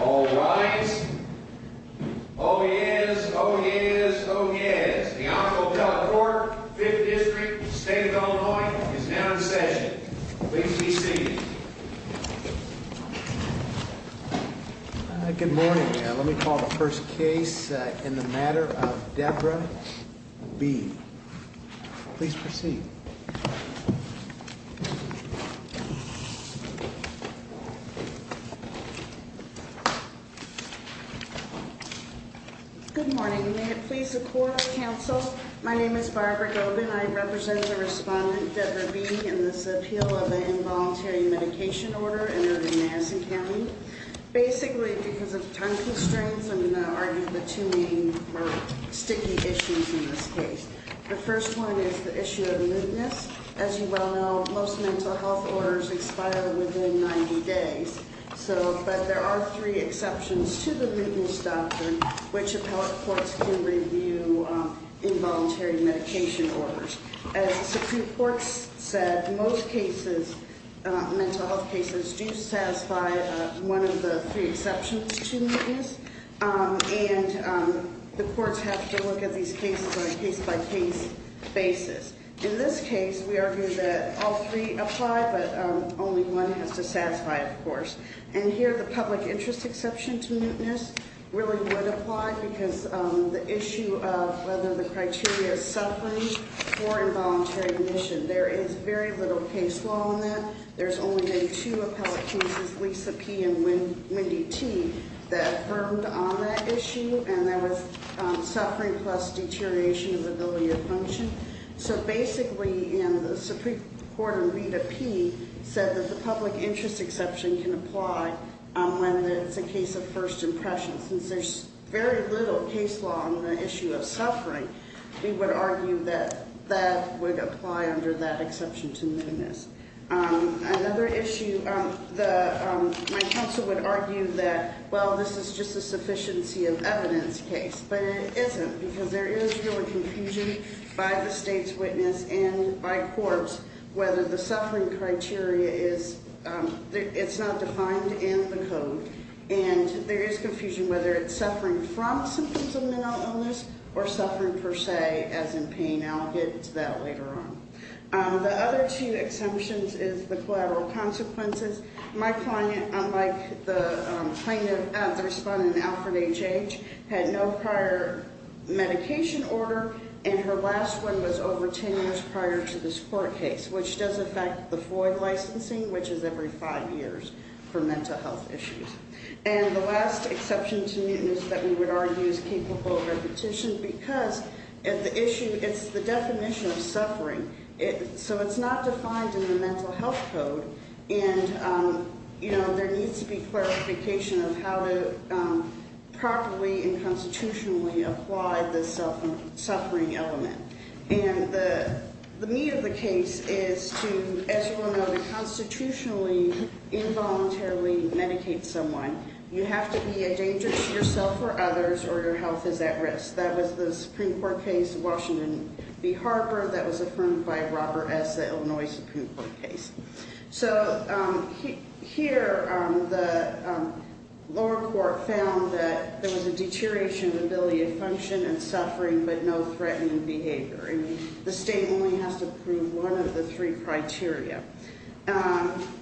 All right. Oh, yes. Oh, yes. Oh, yes. The Honorable Teleport Fifth District State of Illinois is now in session. Please be seated. Good morning. Let me call the first case in the matter of Deborah B. Please proceed. Good morning. May it please the Court of Counsel. My name is Barbara Gobin. I represent the respondent, Deborah B., in this appeal of an involuntary medication order in Irving, Madison County. Basically, because of time constraints, I'm going to argue the two main sticky issues in this case. The first one is the issue of mootness. As you well know, most mental health orders expire within 90 days. But there are three exceptions to the mootness doctrine which appellate courts can review involuntary medication orders. As the Supreme Court said, most cases, mental health cases, do satisfy one of the three exceptions to mootness. And the courts have to look at these cases on a case-by-case basis. In this case, we argue that all three apply, but only one has to satisfy, of course. And here, the public interest exception to mootness really would apply because the issue of whether the criteria is suffering for involuntary admission. There is very little case law on that. There's only been two appellate cases, Lisa P. and Wendy T., that affirmed on that issue. And that was suffering plus deterioration of ability to function. So, basically, the Supreme Court in Rita P. said that the public interest exception can apply when it's a case of first impression. Since there's very little case law on the issue of suffering, we would argue that that would apply under that exception to mootness. Another issue, my counsel would argue that, well, this is just a sufficiency of evidence case. But it isn't because there is really confusion by the state's witness and by courts whether the suffering criteria is, it's not defined in the code. And there is confusion whether it's suffering from symptoms of mental illness or suffering per se, as in pain. And I'll get into that later on. The other two exemptions is the collateral consequences. My client, unlike the plaintiff at the respondent, Alfred H.H., had no prior medication order. And her last one was over ten years prior to this court case, which does affect the FOIA licensing, which is every five years for mental health issues. And the last exception to mootness that we would argue is capable of repetition because the issue, it's the definition of suffering. So it's not defined in the mental health code. And there needs to be clarification of how to properly and constitutionally apply the suffering element. And the meat of the case is to, as you all know, to constitutionally, involuntarily medicate someone. You have to be a danger to yourself or others, or your health is at risk. That was the Supreme Court case in Washington v. Harper. That was affirmed by Robert S. Illinois Supreme Court case. So here, the lower court found that there was a deterioration of ability to function and suffering, but no threatening behavior. And the state only has to approve one of the three criteria.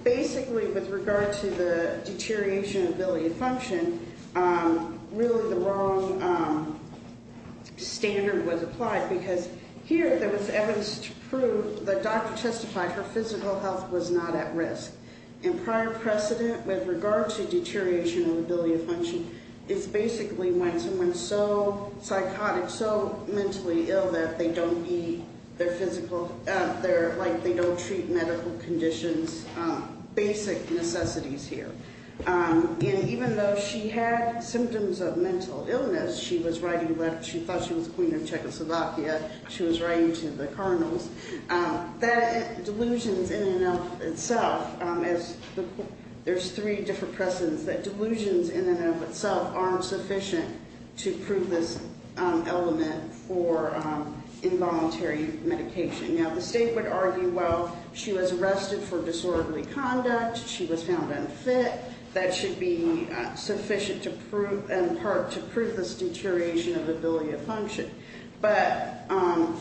Basically, with regard to the deterioration of ability to function, really the wrong standard was applied. Because here, there was evidence to prove the doctor testified her physical health was not at risk. And prior precedent with regard to deterioration of ability to function is basically when someone's so psychotic, or so mentally ill that they don't need their physical, like they don't treat medical conditions, basic necessities here. And even though she had symptoms of mental illness, she was writing letters, she thought she was the queen of Czechoslovakia, she was writing to the colonels, that delusions in and of itself, there's three different precedents, that delusions in and of itself aren't sufficient to prove this element for involuntary medication. Now, the state would argue, well, she was arrested for disorderly conduct, she was found unfit, that should be sufficient to prove, in part, to prove this deterioration of ability to function. But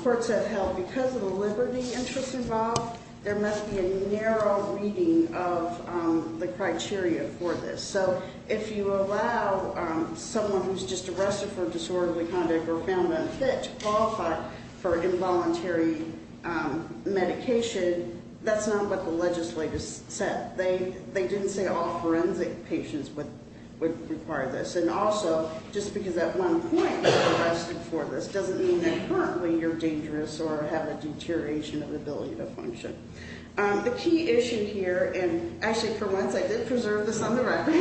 courts have held, because of the liberty interests involved, there must be a narrow reading of the criteria for this. So if you allow someone who's just arrested for disorderly conduct or found unfit to qualify for involuntary medication, that's not what the legislature said. They didn't say all forensic patients would require this. And also, just because at one point you were arrested for this doesn't mean that currently you're dangerous or have a deterioration of ability to function. The key issue here, and actually for once I did preserve this on the record,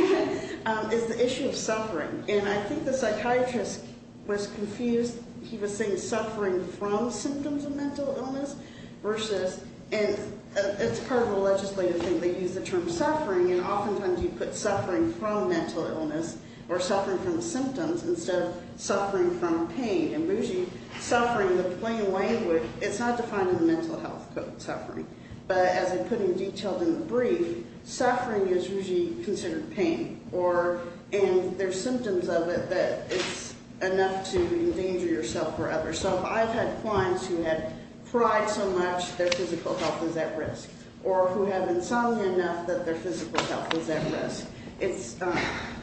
is the issue of suffering. And I think the psychiatrist was confused. He was saying suffering from symptoms of mental illness versus, and it's part of the legislative thing, they use the term suffering, and oftentimes you put suffering from mental illness or suffering from symptoms instead of suffering from pain. And usually suffering, the plain language, it's not defined in the mental health code, suffering. But as I put in detail in the brief, suffering is usually considered pain, and there's symptoms of it that it's enough to endanger yourself or others. So I've had clients who have cried so much their physical health was at risk, or who have insomnia enough that their physical health was at risk.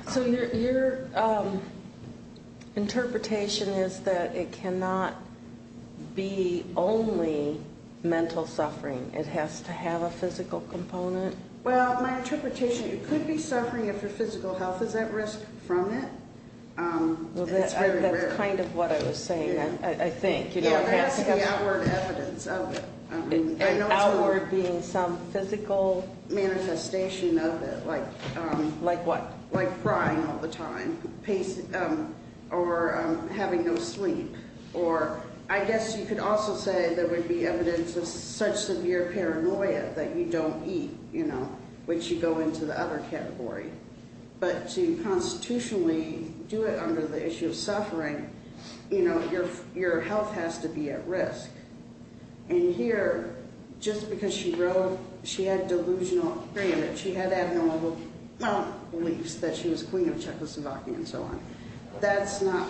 So your interpretation is that it cannot be only mental suffering. It has to have a physical component? Well, my interpretation, it could be suffering if your physical health is at risk from it. Well, that's kind of what I was saying, I think. Yeah, there has to be outward evidence of it. And outward being some physical? Manifestation of it. Like what? Like crying all the time or having no sleep. Or I guess you could also say there would be evidence of such severe paranoia that you don't eat, you know, which you go into the other category. But to constitutionally do it under the issue of suffering, you know, your health has to be at risk. And here, just because she wrote she had delusional, she had abnormal beliefs that she was queen of Czechoslovakia and so on, that's not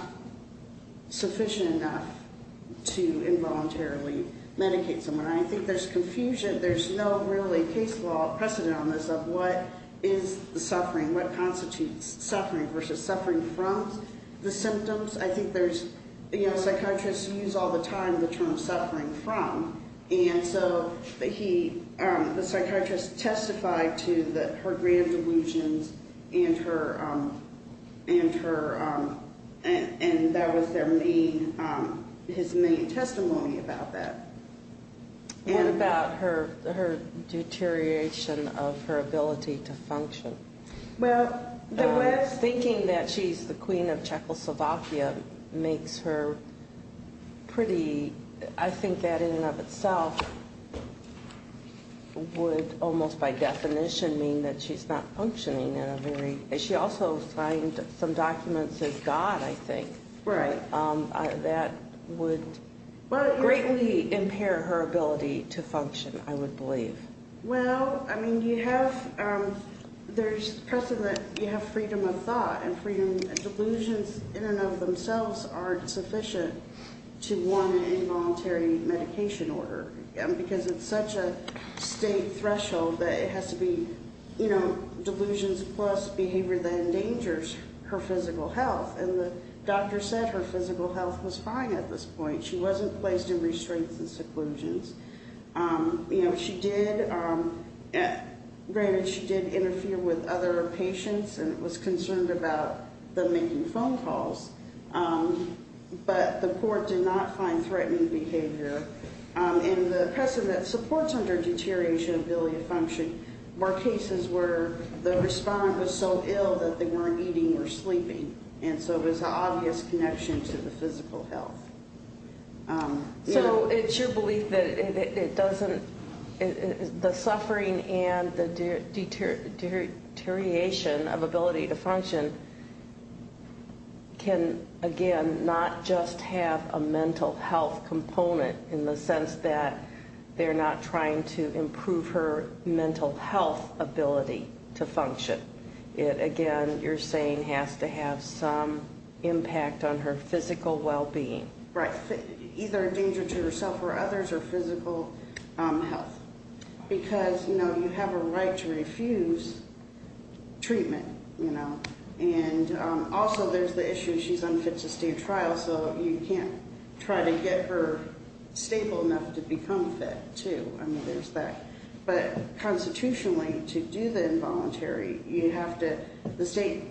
sufficient enough to involuntarily medicate someone. And I think there's confusion, there's no really case law precedent on this of what is the suffering, what constitutes suffering versus suffering from the symptoms. I think there's, you know, psychiatrists use all the time the term suffering from. And so he, the psychiatrist testified to her grand delusions and her, and that was their main, his main testimony about that. What about her deterioration of her ability to function? Thinking that she's the queen of Czechoslovakia makes her pretty, I think that in and of itself would almost by definition mean that she's not functioning in a very, and she also signed some documents as God, I think. Right. That would greatly impair her ability to function, I would believe. Well, I mean, you have, there's precedent, you have freedom of thought and freedom, and delusions in and of themselves aren't sufficient to one involuntary medication order. Because it's such a state threshold that it has to be, you know, delusions plus behavior that endangers her physical health. And the doctor said her physical health was fine at this point. She wasn't placed in restraints and seclusions. You know, she did, granted she did interfere with other patients and was concerned about them making phone calls. But the court did not find threatening behavior. And the precedent supports under deterioration of ability to function were cases where the respondent was so ill that they weren't eating or sleeping. And so it was an obvious connection to the physical health. So it's your belief that it doesn't, the suffering and the deterioration of ability to function can, again, not just have a mental health component in the sense that they're not trying to improve her mental health ability to function. But it, again, you're saying has to have some impact on her physical well-being. Right. Either a danger to herself or others or physical health. Because, you know, you have a right to refuse treatment, you know. And also there's the issue she's unfit to stay in trial, so you can't try to get her stable enough to become fit, too. I mean, there's that. But constitutionally, to do the involuntary, you have to, the state,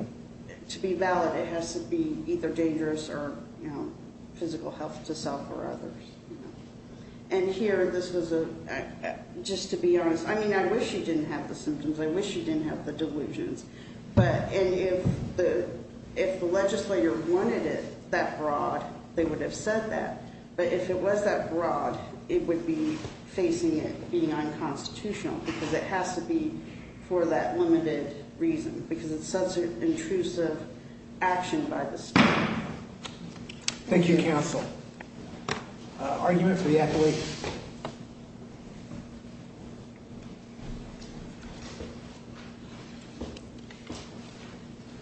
to be valid, it has to be either dangerous or, you know, physical health to self or others. And here, this was a, just to be honest, I mean, I wish she didn't have the symptoms. I wish she didn't have the delusions. But if the legislator wanted it that broad, they would have said that. But if it was that broad, it would be facing it being unconstitutional because it has to be for that limited reason. Because it's such an intrusive action by the state. Thank you, counsel. Argument for the appellate.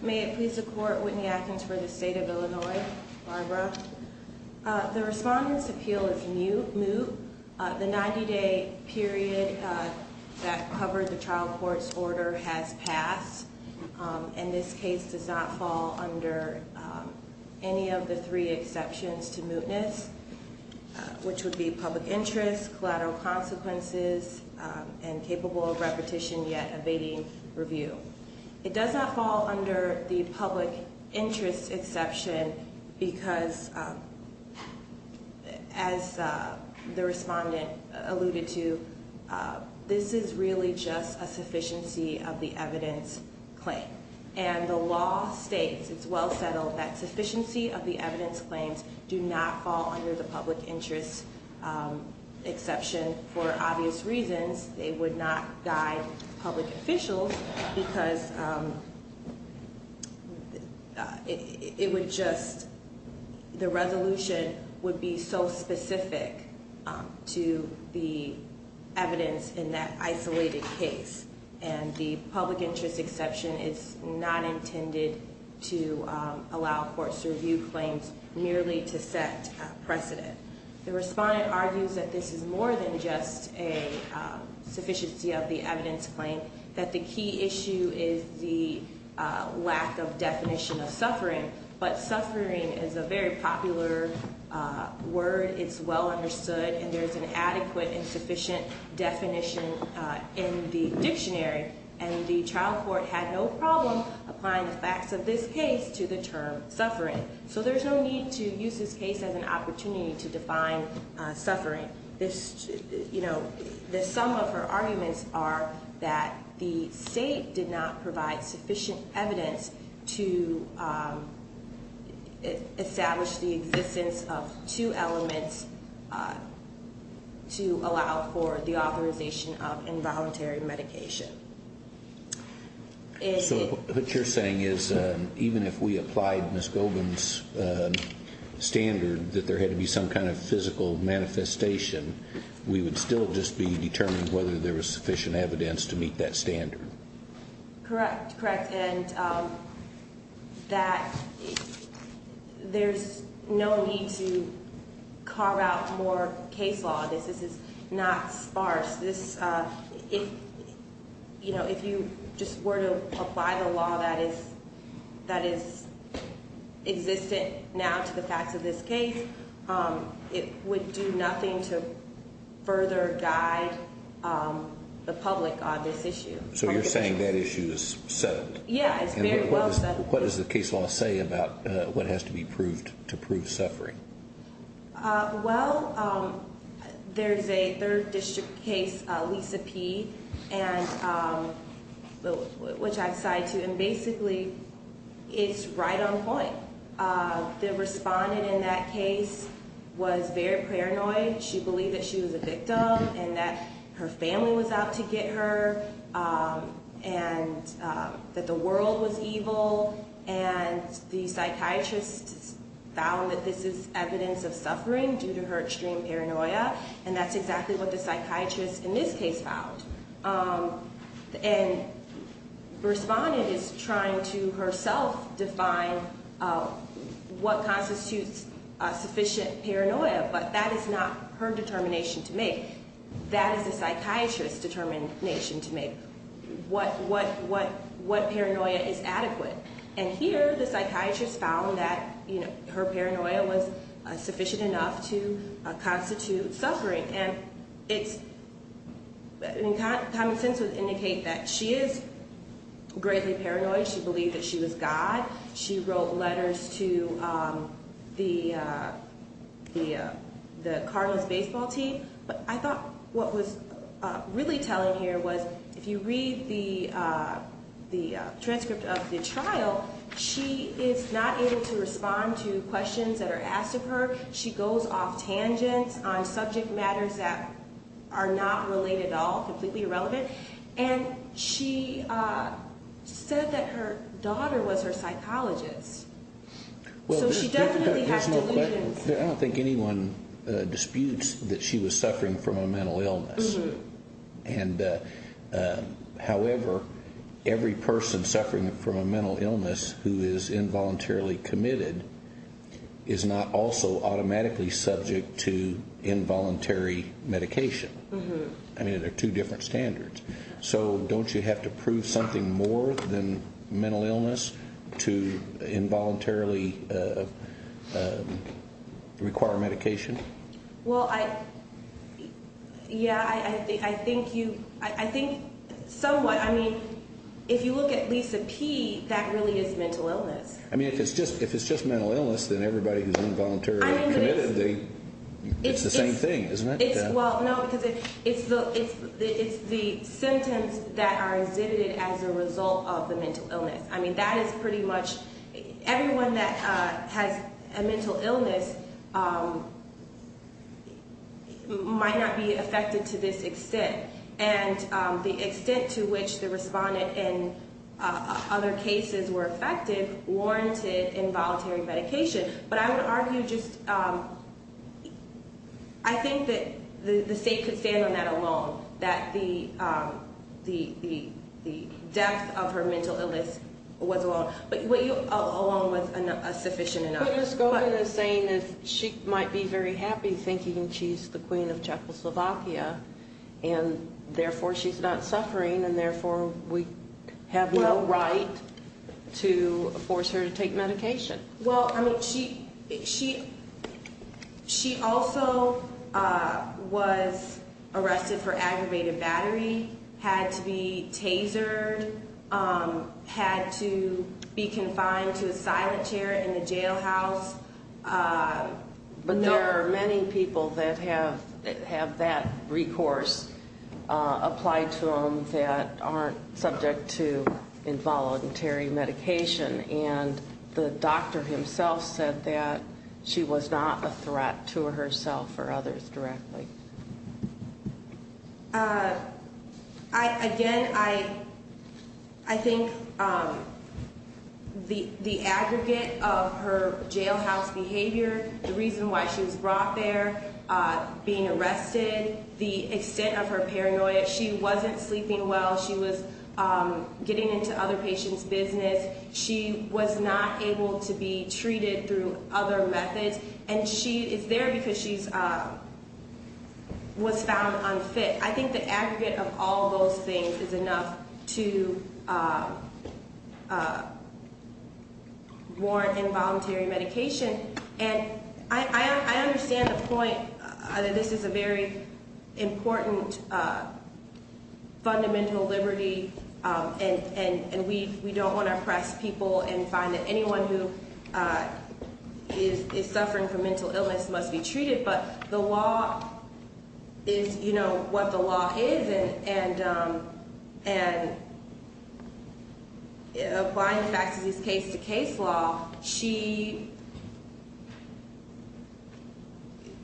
May it please the court, Whitney Atkins for the state of Illinois, Barbara. The respondent's appeal is moot. The 90-day period that covered the trial court's order has passed. And this case does not fall under any of the three exceptions to mootness, which would be public interest, collateral consequences, and capable of repetition yet evading review. It does not fall under the public interest exception because, as the respondent alluded to, this is really just a sufficiency of the evidence claim. And the law states, it's well settled, that sufficiency of the evidence claims do not fall under the public interest exception. For obvious reasons, they would not guide public officials because it would just, the resolution would be so specific to the evidence in that isolated case. And the public interest exception is not intended to allow courts to review claims merely to set precedent. The respondent argues that this is more than just a sufficiency of the evidence claim, that the key issue is the lack of definition of suffering. But suffering is a very popular word. It's well understood. And there's an adequate and sufficient definition in the dictionary. And the trial court had no problem applying the facts of this case to the term suffering. So there's no need to use this case as an opportunity to define suffering. The sum of her arguments are that the state did not provide sufficient evidence to establish the existence of two elements to allow for the authorization of involuntary medication. So what you're saying is even if we applied Ms. Goldman's standard that there had to be some kind of physical manifestation, we would still just be determining whether there was sufficient evidence to meet that standard. Correct, correct. And that there's no need to carve out more case law. This is not sparse. If you just were to apply the law that is existent now to the facts of this case, it would do nothing to further guide the public on this issue. So you're saying that issue is settled? Yeah, it's very well settled. What does the case law say about what has to be proved to prove suffering? Well, there's a third district case, Lisa P., which I've cited. And basically, it's right on point. The respondent in that case was very paranoid. She believed that she was a victim and that her family was out to get her and that the world was evil. And the psychiatrist found that this is evidence of suffering due to her extreme paranoia. And that's exactly what the psychiatrist in this case found. And the respondent is trying to herself define what constitutes sufficient paranoia. But that is not her determination to make. That is the psychiatrist's determination to make. What paranoia is adequate. And here, the psychiatrist found that her paranoia was sufficient enough to constitute suffering. And common sense would indicate that she is greatly paranoid. She believed that she was God. She wrote letters to the Cardinals baseball team. But I thought what was really telling here was if you read the transcript of the trial, she is not able to respond to questions that are asked of her. She goes off tangents on subject matters that are not related at all, completely irrelevant. And she said that her daughter was her psychologist. So she definitely has delusions. I don't think anyone disputes that she was suffering from a mental illness. And, however, every person suffering from a mental illness who is involuntarily committed is not also automatically subject to involuntary medication. I mean, they're two different standards. So don't you have to prove something more than mental illness to involuntarily require medication? Well, yeah, I think somewhat. I mean, if you look at Lisa P., that really is mental illness. I mean, if it's just mental illness, then everybody who's involuntarily committed, it's the same thing, isn't it? Well, no, because it's the symptoms that are exhibited as a result of the mental illness. I mean, that is pretty much everyone that has a mental illness might not be affected to this extent. And the extent to which the respondent in other cases were affected warranted involuntary medication. But I would argue just I think that the state could stand on that alone, that the death of her mental illness was alone. But alone was sufficient enough. But Ms. Goldman is saying that she might be very happy thinking she's the queen of Czechoslovakia, and therefore she's not suffering, and therefore we have no right to force her to take medication. Well, I mean, she also was arrested for aggravated battery, had to be tasered, had to be confined to a silent chair in the jailhouse. But there are many people that have that recourse applied to them that aren't subject to involuntary medication. And the doctor himself said that she was not a threat to herself or others directly. Again, I think the aggregate of her jailhouse behavior, the reason why she was brought there, being arrested, the extent of her paranoia, she wasn't sleeping well, she was getting into other patients' business, she was not able to be treated through other methods, and she is there because she was found unfit. I think the aggregate of all those things is enough to warrant involuntary medication. And I understand the point that this is a very important fundamental liberty, and we don't want to oppress people and find that anyone who is suffering from mental illness must be treated, but the law is what the law is, and applying the facts of this case-to-case law,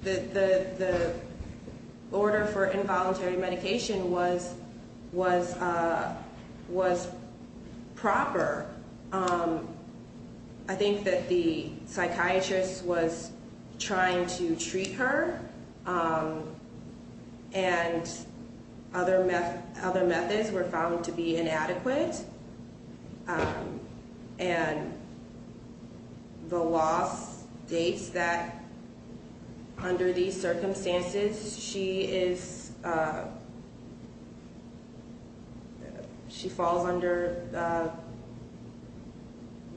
the order for involuntary medication was proper. I think that the psychiatrist was trying to treat her, and other methods were found to be inadequate, and the law states that under these circumstances, she falls under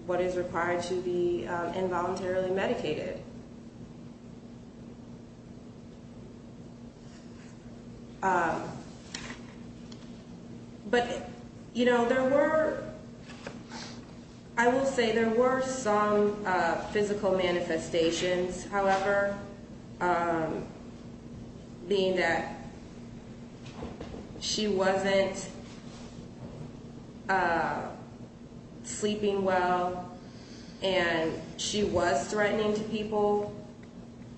what is required to be involuntarily medicated. But, you know, there were, I will say there were some physical manifestations, however, being that she wasn't sleeping well, and she was threatening to people.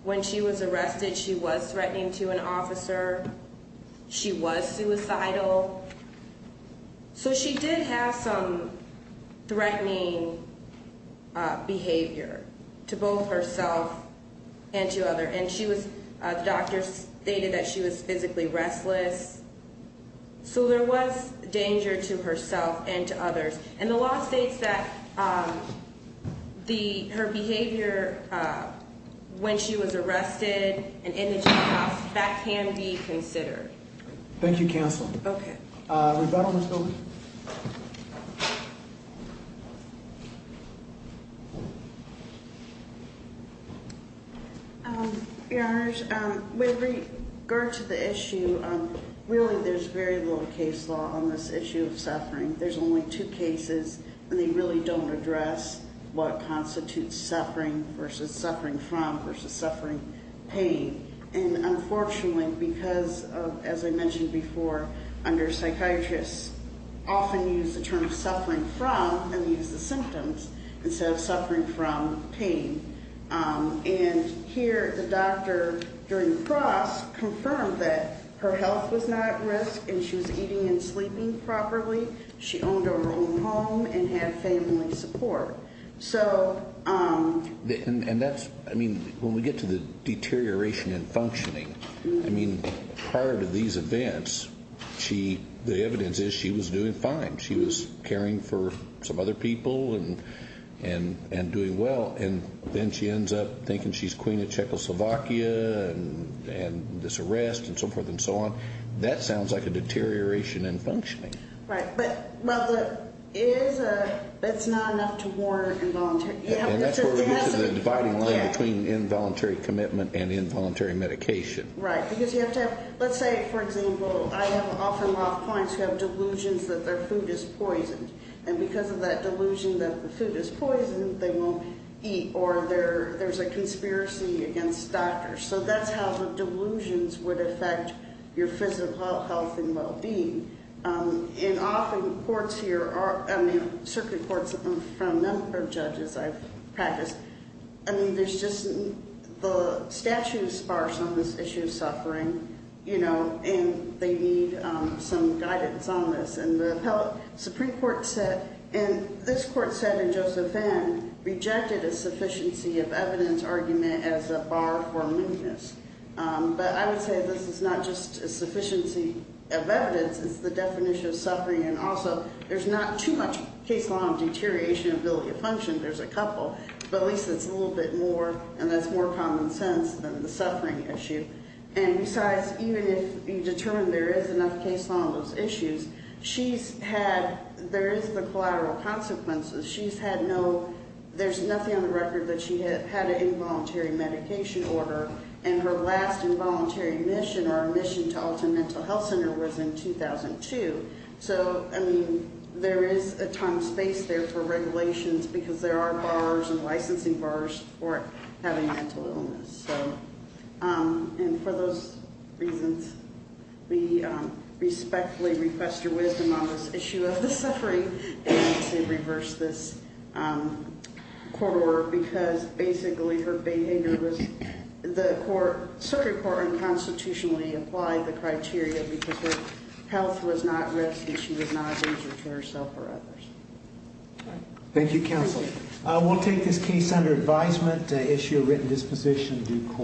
When she was arrested, she was threatening to an officer. She was suicidal. So she did have some threatening behavior to both herself and to others, and the doctor stated that she was physically restless. So there was danger to herself and to others, and the law states that her behavior when she was arrested and in the jailhouse, that can be considered. Thank you, Counsel. Okay. Revetal, let's go. Your Honors, with regard to the issue, really there's very little case law on this issue of suffering. There's only two cases, and they really don't address what constitutes suffering versus suffering from versus suffering pain. And unfortunately, because of, as I mentioned before, under psychiatrists often use the term suffering from and use the symptoms instead of suffering from pain, and here the doctor during the cross confirmed that her health was not at risk, and she was eating and sleeping properly. She owned her own home and had family support. And that's, I mean, when we get to the deterioration in functioning, I mean, prior to these events, the evidence is she was doing fine. She was caring for some other people and doing well, and then she ends up thinking she's queen of Czechoslovakia and this arrest and so forth and so on. That sounds like a deterioration in functioning. Right. But it's not enough to warrant involuntary. And that's where we get to the dividing line between involuntary commitment and involuntary medication. Right, because you have to have, let's say, for example, I have often lost clients who have delusions that their food is poisoned, and because of that delusion that the food is poisoned, they won't eat, or there's a conspiracy against doctors. So that's how the delusions would affect your physical health and well-being. And often courts here are, I mean, certainly courts from a number of judges I've practiced, I mean, there's just the statute is sparse on this issue of suffering, you know, and they need some guidance on this. And the Supreme Court said, and this court said in Joseph Vand, rejected a sufficiency of evidence argument as a bar for weakness. But I would say this is not just a sufficiency of evidence, it's the definition of suffering, and also there's not too much case law of deterioration of ability to function. There's a couple, but at least it's a little bit more, and that's more common sense than the suffering issue. And besides, even if you determine there is enough case law on those issues, she's had, there is the collateral consequences. She's had no, there's nothing on the record that she had an involuntary medication order, and her last involuntary admission or admission to Alton Mental Health Center was in 2002. So, I mean, there is a time and space there for regulations because there are bars and licensing bars for having mental illness. So, and for those reasons, we respectfully request your wisdom on this issue of the suffering, and I would say reverse this court order because basically her behavior was, the court, Supreme Court unconstitutionally applied the criteria because her health was not risk, and she was not a danger to herself or others. Thank you, counsel. We'll take this case under advisement, issue a written disposition due court.